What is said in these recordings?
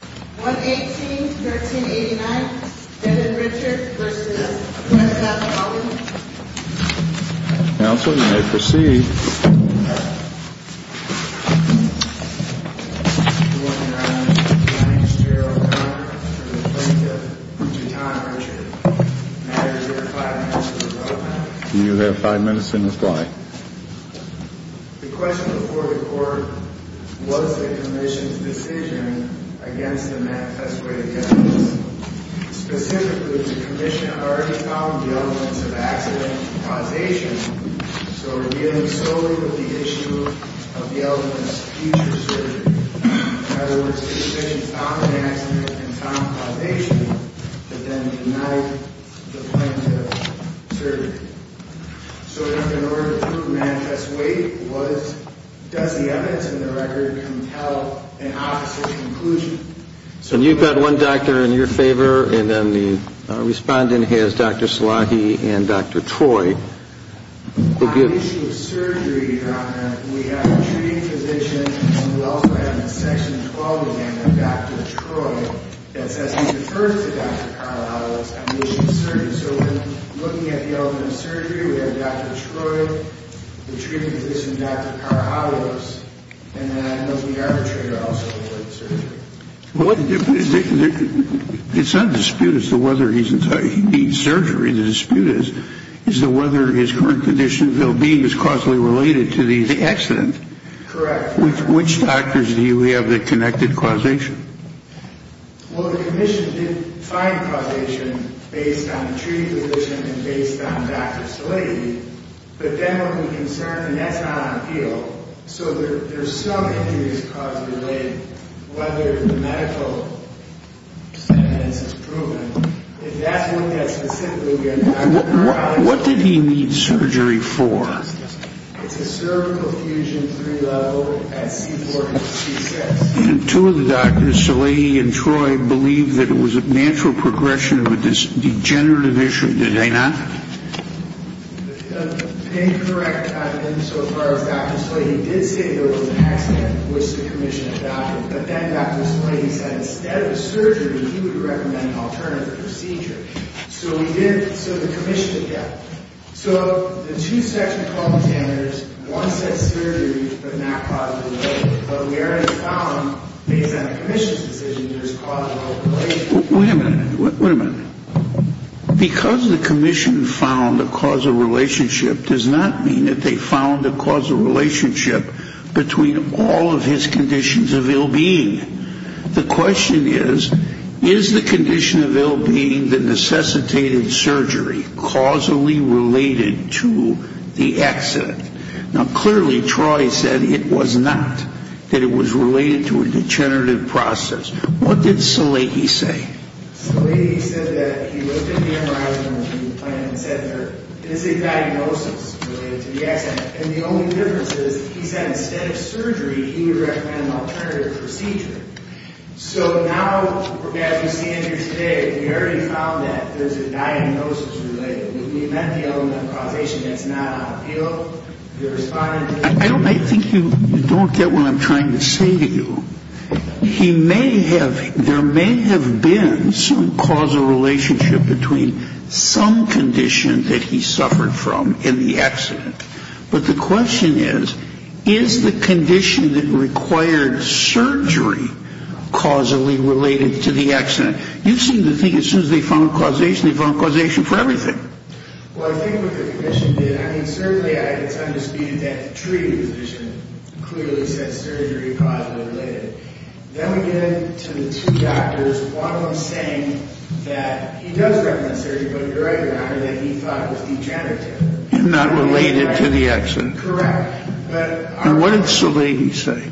118.13.89 Bennett Richard v. Westcott Chalmers Counsel, you may proceed. Your Honor, I am the attorney-general of Congress for the plaintiff, Utahn Richard. May I reserve five minutes for the program? You have five minutes in the fly. The question before the Court was the Commission's decision against the manifesto evidence. Specifically, the Commission had already found the elements of accident causation, so revealing solely that the issue of the element is future surgery. In other words, the Commission found an accident and found causation that then denied the plaintiff surgery. So in order to manifest weight, does the evidence in the record compel an opposite conclusion? And you've got one doctor in your favor, and then the respondent has Dr. Salahi and Dr. Troy. On the issue of surgery, Your Honor, we have a treating physician and we also have a Section 12 amendment, Dr. Troy, that says he refers to Dr. Carlisle on the issue of surgery. And so when looking at the element of surgery, we have Dr. Troy, the treating physician, Dr. Carlisle, and then I know the arbitrator also avoided surgery. It's not a dispute as to whether he needs surgery. The dispute is whether his current condition of well-being is causally related to the accident. Correct. Which doctors do you have that connected causation? Well, the Commission did find causation based on the treating physician and based on Dr. Salahi. But then what we're concerned, and that's not on appeal, so there's some injuries causally related, whether the medical evidence is proven. If that's what we have specifically, again, Dr. Carlisle. What did he need surgery for? It's a cervical fusion pre-level at C4 to C6. And two of the doctors, Salahi and Troy, believed that it was a natural progression of a degenerative issue. Did they not? Incorrect insofar as Dr. Salahi did say there was an accident, which the Commission adopted. But then Dr. Salahi said instead of surgery, he would recommend an alternative procedure. So we did, so the Commission did that. So the two section called standards, one said surgery, but not causally related. But we already found, based on the Commission's decision, there's causally related. Wait a minute, wait a minute. Because the Commission found a causal relationship does not mean that they found a causal relationship between all of his conditions of ill-being. The question is, is the condition of ill-being, the necessitated surgery, causally related to the accident? Now, clearly, Troy said it was not, that it was related to a degenerative process. What did Salahi say? Salahi said that he looked at the MRI and the plan and said there is a diagnosis related to the accident. And the only difference is he said instead of surgery, he would recommend an alternative procedure. So now, as we stand here today, we already found that there's a diagnosis related. We met the element of causation that's not on appeal. They responded to it. I think you don't get what I'm trying to say to you. He may have, there may have been some causal relationship between some condition that he suffered from in the accident, but the question is, is the condition that required surgery causally related to the accident? You seem to think as soon as they found causation, they found causation for everything. Well, I think what the Commission did, I mean, certainly it's undisputed that the treaty position clearly said surgery causally related. Then we get into the two doctors, one of them saying that he does recommend surgery, but the MRI that he thought was degenerative. And not related to the accident. Correct. And what did Salahi say?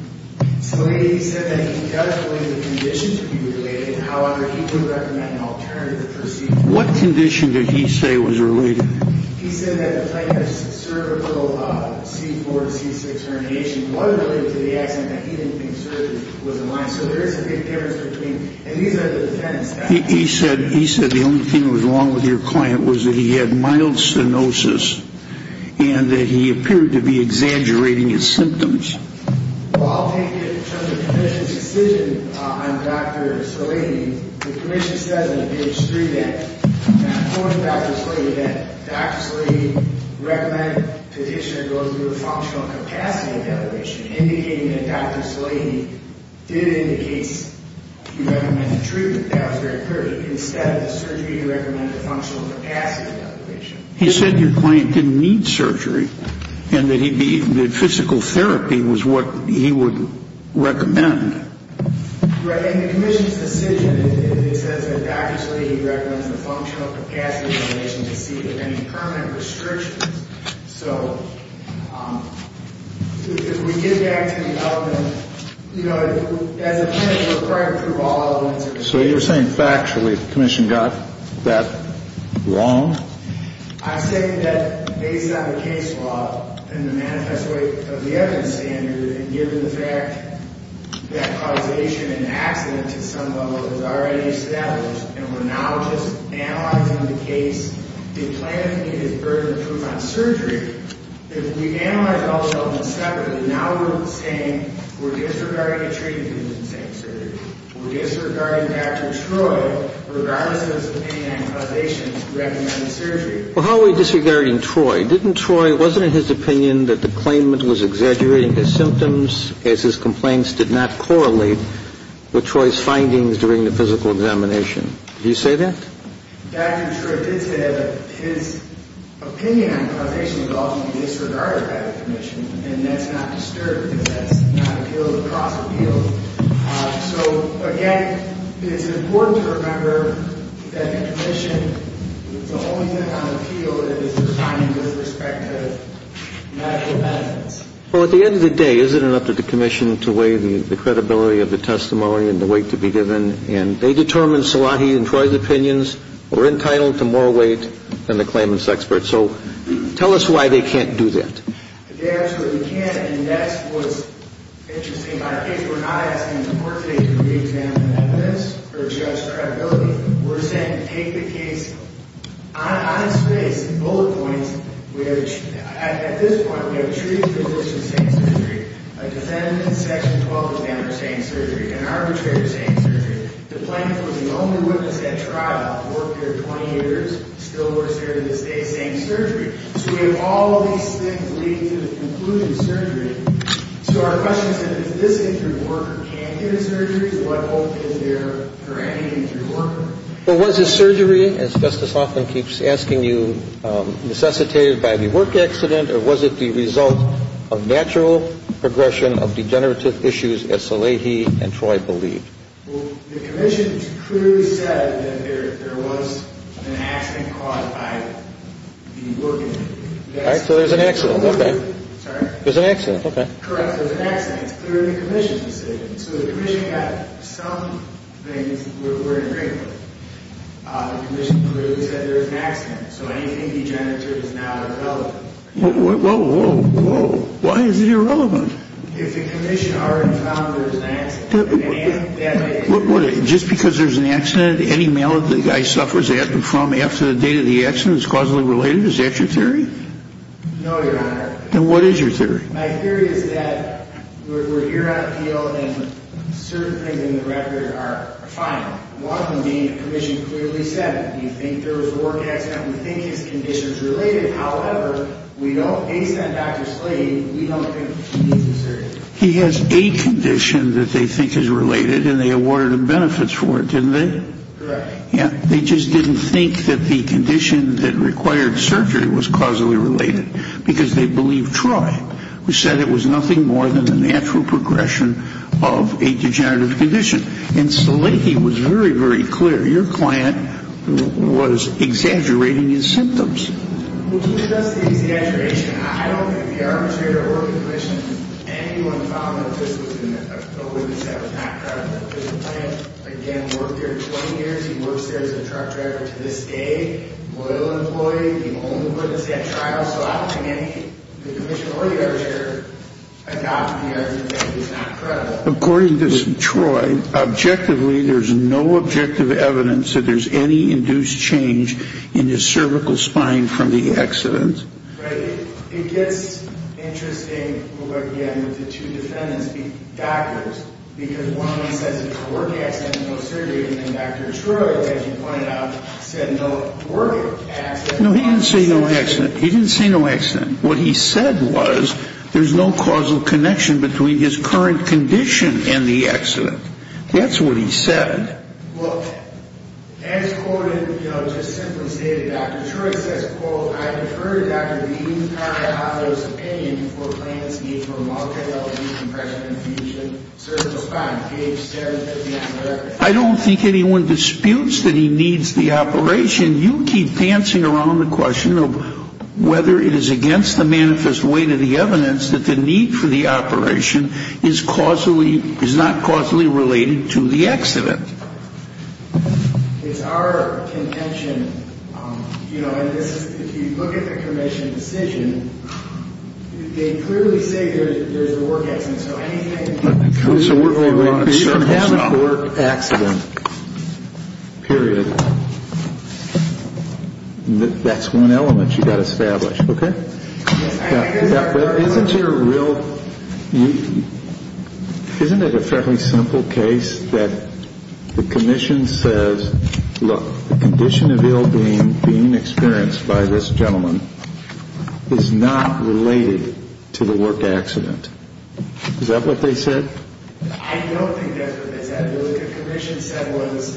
Salahi said that he does believe the condition to be related. However, he would recommend an alternative procedure. What condition did he say was related? He said that the type of cervical C4, C6 herniation wasn't related to the accident, that he didn't think surgery was in line. So there is a big difference between, and these are the defendants. He said the only thing that was wrong with your client was that he had mild stenosis and that he appeared to be exaggerating his symptoms. Well, I'll take it in terms of the Commission's decision on Dr. Salahi. The Commission says on page three that, according to Dr. Salahi, that Dr. Salahi recommended the condition to go through a functional capacity evaluation, indicating that Dr. Salahi did in the case recommend the treatment. That was very clear. Instead of the surgery, he recommended a functional capacity evaluation. He said your client didn't need surgery and that physical therapy was what he would recommend. Right. In the Commission's decision, it says that Dr. Salahi recommends the functional capacity evaluation to see if there are any permanent restrictions. So if we get back to the element, you know, as a clinic, So you're saying factually the Commission got that wrong? I'm saying that based on the case law and the manifest way of the evidence standard and given the fact that causation and accident to some level is already established and we're now just analyzing the case, did planning need as burdened proof on surgery? If we analyze all those elements separately, now we're saying we're disregarding a treatment and saying surgery. We're disregarding Dr. Troy, regardless of his opinion on causation, who recommended surgery. Well, how are we disregarding Troy? Wasn't it his opinion that the claimant was exaggerating his symptoms as his complaints did not correlate with Troy's findings during the physical examination? Did he say that? Dr. Troy did say that his opinion on causation was often disregarded by the Commission and that's not disturbed because that's not a field of cross-appeal. So, again, it's important to remember that the Commission, the only thing on the field is the findings with respect to medical evidence. Well, at the end of the day, is it enough for the Commission to weigh the credibility of the testimony and the weight to be given? And they determined Salahi and Troy's opinions were entitled to more weight than the claimant's experts. So tell us why they can't do that. They absolutely can. And that's what's interesting about our case. We're not asking the Court today to re-examine the evidence or judge credibility. We're saying take the case on its face, bullet points. At this point, we have a treated physician saying surgery. A defendant in Section 12 is now saying surgery. An arbitrator is saying surgery. The claimant was the only witness at trial. Worked there 20 years. Still works there to this day saying surgery. So we have all of these things leading to the conclusion surgery. So our question is then, if this injured worker can't get a surgery, what hope is there for any injured worker? Well, was the surgery, as Justice Hoffman keeps asking you, necessitated by the work accident, or was it the result of natural progression of degenerative issues, as Salahi and Troy believed? Well, the Commission clearly said that there was an accident caused by the work incident. All right. So there's an accident. Okay. Sorry? There's an accident. Okay. Correct. There's an accident. It's clearly the Commission's decision. So the Commission had some things we're in agreement with. The Commission clearly said there was an accident. So anything degenerative is now irrelevant. Whoa, whoa, whoa, whoa. Why is it irrelevant? If the Commission already found there was an accident. Just because there's an accident, any malady the guy suffers from after the date of the accident is causally related? Is that your theory? No, Your Honor. Then what is your theory? My theory is that we're here on appeal, and certain things in the record are fine. One of them being the Commission clearly said, do you think there was a work accident? Do you think his condition is related? However, we don't base that on Dr. Salehi. We don't think he's the surgeon. He has a condition that they think is related, and they awarded him benefits for it, didn't they? Correct. Yeah. They just didn't think that the condition that required surgery was causally related, because they believed Troy, who said it was nothing more than the natural progression of a degenerative condition. And Salehi was very, very clear. Your client was exaggerating his symptoms. Well, he was just exaggerating. I don't think the arbitrator or the Commission, anyone found that this was a witness that was not credible. His client, again, worked here 20 years. He works there as a truck driver to this day, loyal employee. He only put this at trial. So I don't think any of the Commission or the arbitrator adopted the argument that he was not credible. According to Troy, objectively, there's no objective evidence that there's any induced change in his cervical spine from the accident. Right. It gets interesting, again, with the two defendants being doctors, because one of them says it's a work accident, no surgery, and then Dr. Troy, as you pointed out, said no work accident. No, he didn't say no accident. He didn't say no accident. What he said was there's no causal connection between his current condition and the accident. That's what he said. Well, as quoted, you know, just simply stated, Dr. Troy says, quote, I defer to Dr. Dean to comment on those opinions before plans meet for a multi-element decompression infusion, cervical spine, PH 750, and whatever. I don't think anyone disputes that he needs the operation. You keep dancing around the question of whether it is against the manifest weight of the evidence that the need for the operation is not causally related to the accident. It's our contention, you know, and if you look at the commission's decision, they clearly say there's a work accident. So anything I can get back to you is a work accident. Period. That's one element you've got to establish, okay? Isn't there a real – isn't it a fairly simple case that the commission says, look, the condition of ill-being being experienced by this gentleman is not related to the work accident? Is that what they said? I don't think that's what they said. What the commission said was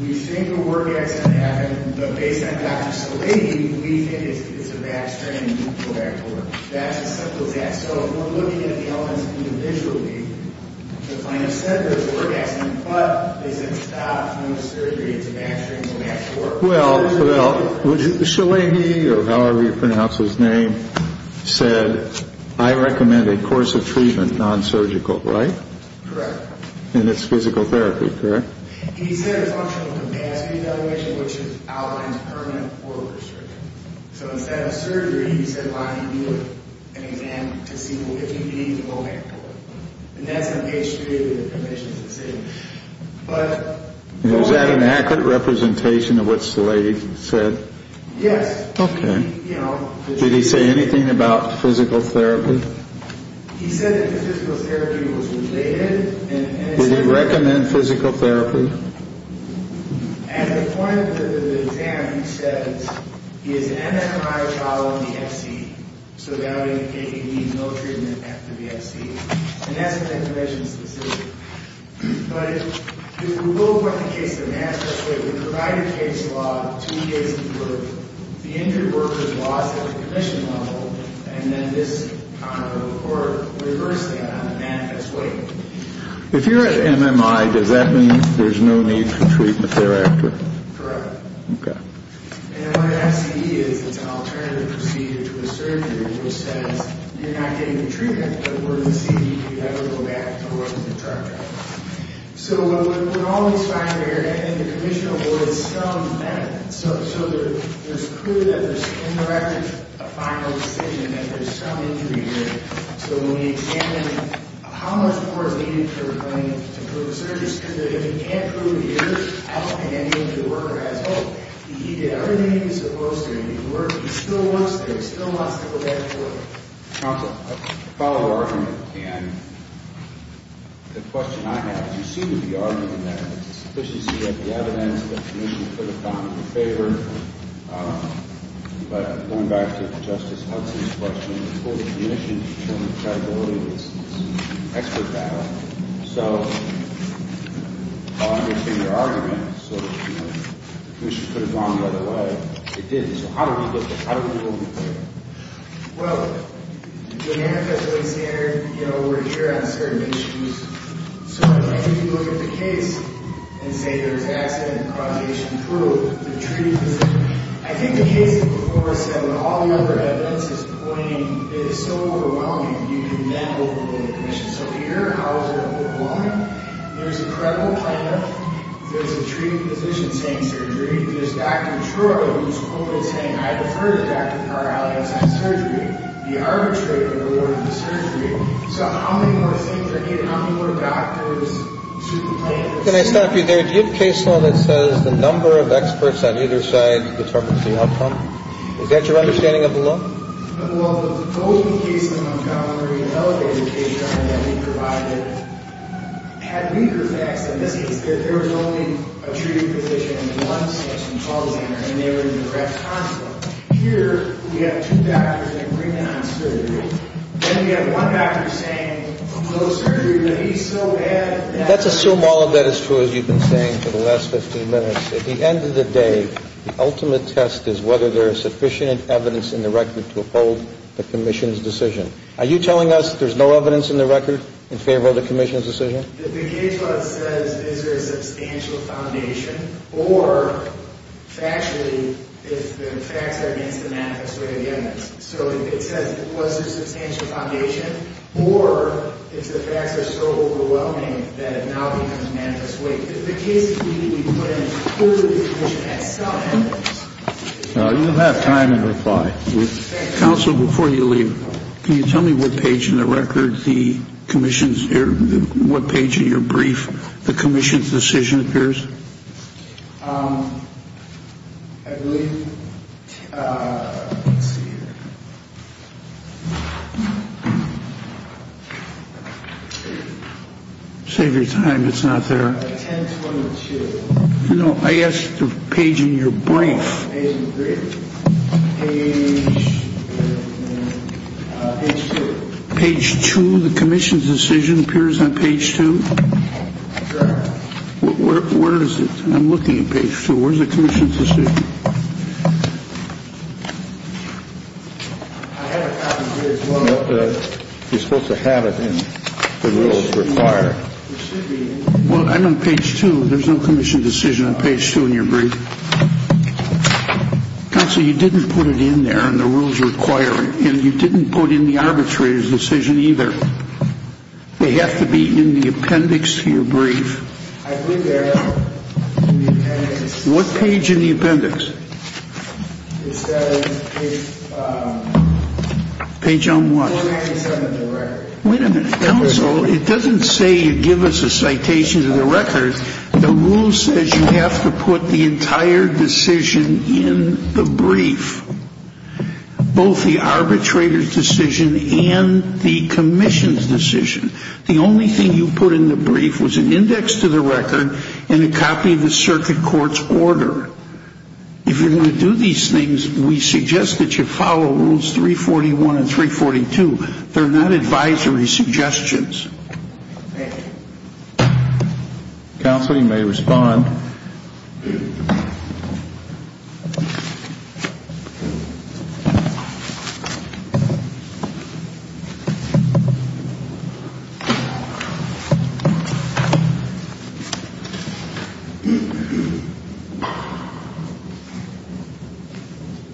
we think a work accident happened, but based on Dr. Shalaby, we think it's a back strain, go back to work. That's as simple as that. So if we're looking at the elements individually to find a center for a work accident, but they said stop, no surgery, it's a back strain, go back to work. Well, Shalaby, or however you pronounce his name, said, I recommend a course of treatment non-surgical, right? Correct. And it's physical therapy, correct? And he said a functional capacity evaluation, which outlines permanent or restricted. So instead of surgery, he said why don't you do an exam to see if you need to go back to work. And that's in page 3 of the commission's decision. Was that an accurate representation of what Slade said? Yes. Okay. Did he say anything about physical therapy? He said that physical therapy was related. Would he recommend physical therapy? At the point of the exam, he said he has an MRI following the FC, so that would indicate he needs no treatment after the FC. And that's in the commission's decision. But if we go with the case of manifest weight, we provide a case law, two days of work, the injured worker's loss at the commission level, and then this, or reverse that on the manifest weight. If you're at MMI, does that mean there's no need for treatment thereafter? Correct. Okay. And what an FCE is, it's an alternative procedure to a surgery, which says you're not getting the treatment, but we're going to see if you ever go back to work as a truck driver. So what we're always finding here, and the commission avoids some of that, so it's clear that there's indirectly a final decision that there's some injury here. So when we examine how much more is needed for him to prove a surgery, it's clear that if he can't prove he is healthy and the injured worker has hope, he did everything he was supposed to, and he worked, he still works there, he still wants to go back to work. Counsel, a follow-up argument, and the question I have, you seem to be arguing that it's sufficient to get the evidence that the commission could have gotten in favor, but going back to Justice Hudson's question, before the commission determined credibility, it's expert battle. So I understand your argument. So, you know, the commission could have gone the other way. It didn't. So how do we get there? How do we move forward? Well, you know, we're here on certain issues. So if you look at the case and say there's accident and causation proved, I think the case before said with all the other evidence is pointing, it is so overwhelming, you can then overrule the commission. So here, how is it overwhelming? There's a credible plan-up. There's a treating physician saying surgery. There's Dr. Troy who's quoted saying, I defer to Dr. Carr-Allianz on surgery. The arbitrator awarded the surgery. So how many more things are needed? How many more doctors should complain? Can I stop you there? Do you have a case law that says the number of experts on either side determines the outcome? Is that your understanding of the law? Well, the golden case in Montgomery, an elevated case law that we provided, had weaker facts. In this case, there was only a treating physician in one section, and they were in direct conflict. Here, we have two doctors agreeing on surgery. Then we have one doctor saying, no surgery, but he's so bad that he can't do it. Let's assume all of that is true, as you've been saying for the last 15 minutes. At the end of the day, the ultimate test is whether there is sufficient evidence in the record to uphold the commission's decision. Are you telling us there's no evidence in the record in favor of the commission's decision? The case law says, is there a substantial foundation? Or, factually, if the facts are against the manifest way of the evidence. So it says, was there a substantial foundation? Or, if the facts are so overwhelming that it now becomes manifest way. If the case is being put in favor of the commission as such. You'll have time to reply. Counsel, before you leave, can you tell me what page in the record the commission's decision appears? I believe, let's see here. Save your time, it's not there. Page 22. No, I asked the page in your brief. Page two. Page two, the commission's decision appears on page two. Where is it? I'm looking at page two. Where's the commission's decision? You're supposed to have it in the rules required. Well, I'm on page two. There's no commission decision on page two in your brief. Counsel, you didn't put it in there in the rules required. And you didn't put in the arbitrator's decision either. They have to be in the appendix to your brief. I put that in the appendix. What page in the appendix? It says page 477 of the record. Wait a minute. Counsel, it doesn't say you give us a citation to the record. The rule says you have to put the entire decision in the brief, both the arbitrator's decision and the commission's decision. The only thing you put in the brief was an index to the record and a copy of the circuit court's order. If you're going to do these things, we suggest that you follow rules 341 and 342. They're not advisory suggestions. Thank you. Counsel, you may respond.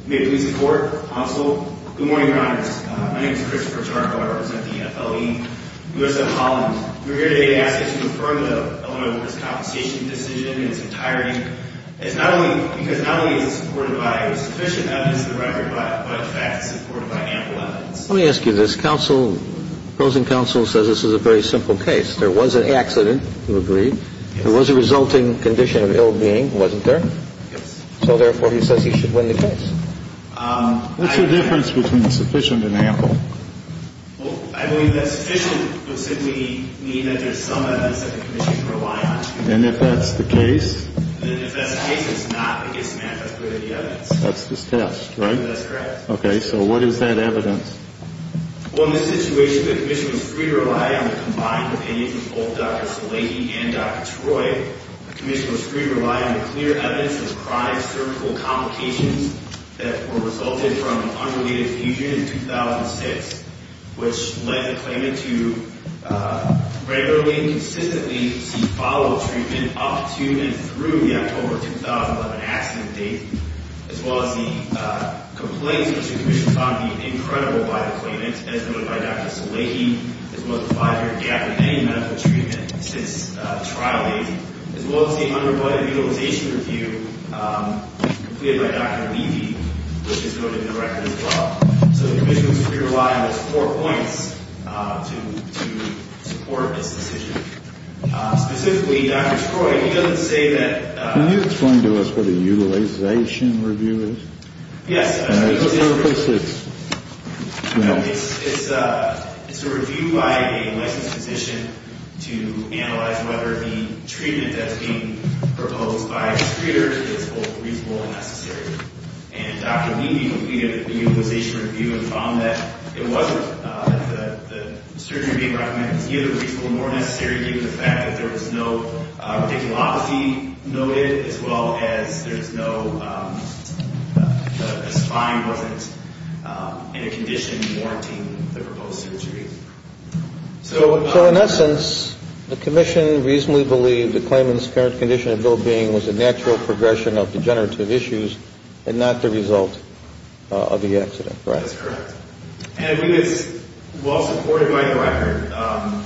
May it please the Court, Counsel, good morning, Your Honors. My name is Christopher Charco. I represent the FLE, U.S.F. Collins. We're here today to ask that you confirm the Eleanor Lewis compensation decision in its entirety, because not only is it supported by sufficient evidence to the record, but in fact, it's supported by ample evidence. Let me ask you this. Counsel, opposing counsel says this is a very simple case. There was an accident, you agree. There was a resulting condition of ill-being, wasn't there? Yes. So therefore, he says he should win the case. What's the difference between sufficient and ample? Well, I believe that sufficient would simply mean that there's some evidence that the commission can rely on. And if that's the case? And if that's the case, it's not a dismantling of the evidence. That's this test, right? That's correct. Okay. So what is that evidence? Well, in this situation, the commission was free to rely on the combined opinions of both Dr. Szilagyi and Dr. Troy. The commission was free to rely on the clear evidence of chronic cervical complications that were resulted from an unrelated fusion in 2006, which led the claimant to regularly and consistently seek follow-up treatment up to and through the October 2011 accident date, as well as the complaints which the commission found to be incredible by the claimant, as noted by Dr. Szilagyi, as well as the five-year gap in any medical treatment since trial date, as well as the unrebutted utilization review completed by Dr. Levy, which is noted in the record as well. So the commission was free to rely on those four points to support this decision. Specifically, Dr. Troy, he doesn't say that – Can you explain to us what a utilization review is? Yes. It's a review by a licensed physician to analyze whether the treatment that's being proposed by its treaters is both reasonable and necessary. And Dr. Levy completed the utilization review and found that it wasn't – that the surgery being recommended was neither reasonable nor necessary, given the fact that there was no radiculopathy noted as well as there's no – the spine wasn't in a condition warranting the proposed surgery. So in essence, the commission reasonably believed the claimant's current condition of well-being was a natural progression of degenerative issues and not the result of the accident, correct? That's correct. And I think it's well supported by the record. I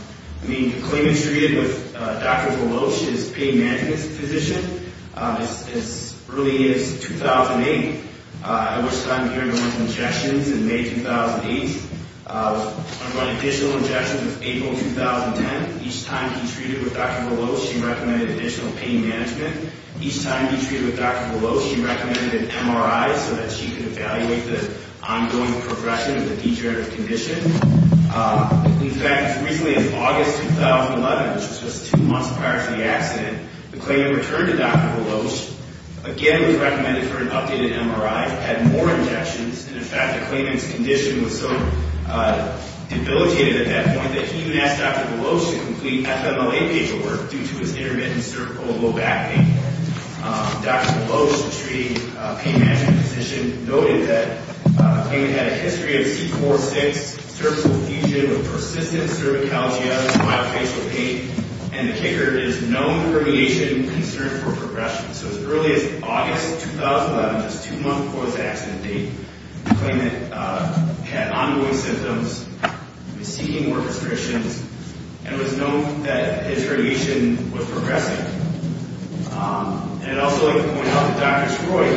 mean, the claimant's treated with Dr. Volosh, his pain management physician, as early as 2008, at which time he underwent injections in May 2008. Underwent additional injections in April 2010. Each time he treated with Dr. Volosh, he recommended additional pain management. Each time he treated with Dr. Volosh, he recommended an MRI so that she could evaluate the ongoing progression of the degenerative condition. In fact, as recently as August 2011, which was just two months prior to the accident, the claimant returned to Dr. Volosh, again was recommended for an updated MRI, had more injections, and in fact the claimant's condition was so debilitated at that point that he even asked Dr. Volosh to complete FMLA paperwork due to his intermittent cervical and low back pain. Dr. Volosh, the treating pain management physician, noted that the claimant had a history of C4-6 cervical fusion with persistent cervicalgia and myofascial pain, and the kicker is no herniation, concern for progression. So as early as August 2011, just two months before his accident date, the claimant had ongoing symptoms, was seeking more restrictions, and it was known that his herniation was progressing. And I'd also like to point out that Dr. Troy,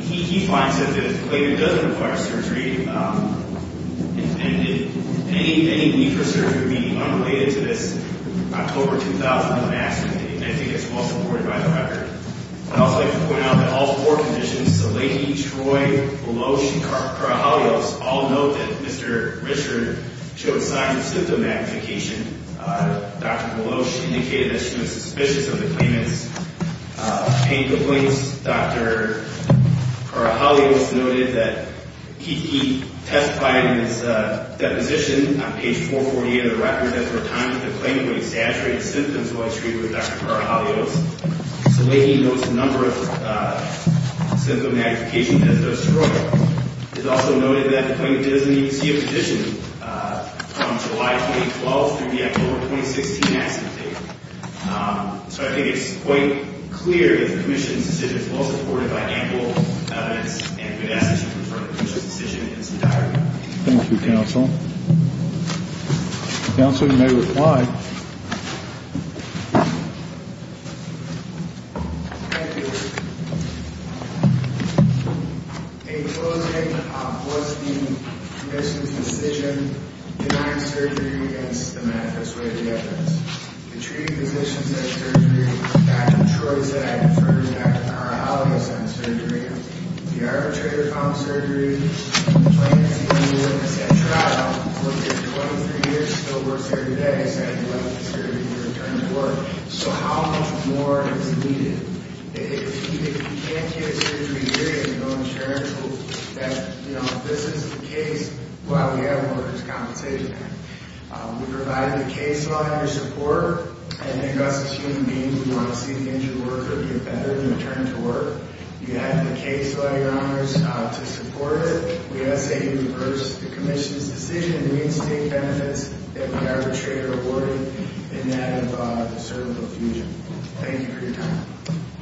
he finds that the claimant doesn't require surgery, and any need for surgery would be unrelated to this October 2011 accident date, and I think it's well supported by the record. I'd also like to point out that all four conditions, Saleki, Troy, Volosh, and Karahalios, all note that Mr. Richard showed signs of symptom magnification. Dr. Volosh indicated that she was suspicious of the claimant's pain complaints. Dr. Karahalios noted that he testified in his deposition on page 440 of the record that for a time that the claimant would exaggerate symptoms while treated with Dr. Karahalios. Saleki notes a number of symptom magnifications as does Troy. It's also noted that the claimant didn't see a physician from July 2012 through the October 2016 accident date. So I think it's quite clear that the commission's decision is well supported by ample evidence and good estimates from the commission's decision in its entirety. Thank you, Counsel. Counsel, you may reply. Thank you. Thank you. In closing, what's the commission's decision denying surgery against the manifest way of the evidence? The treating physician said surgery. Dr. Troy said I defer to Dr. Karahalios on surgery. The arbitrator found surgery. The claimant's legal witness at trial, who has lived here 23 years, still works here today, said he'd like the surgery to return to work. So how much more is needed? If you can't get a surgery here, you're going to go and try to prove that, you know, if this isn't the case, well, we have a workers' compensation act. We provided the case law in your support, and I think us as human beings, we want to see the injured worker get better and return to work. You have the case law, Your Honors, to support it. We've got to say you reversed the commission's decision. We need to take benefits that we arbitrator awarded in that of cervical fusion. Thank you for your time.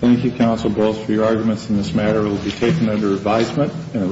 Thank you, Counsel Borges, for your arguments in this matter. It will be taken under advisement and a written statement.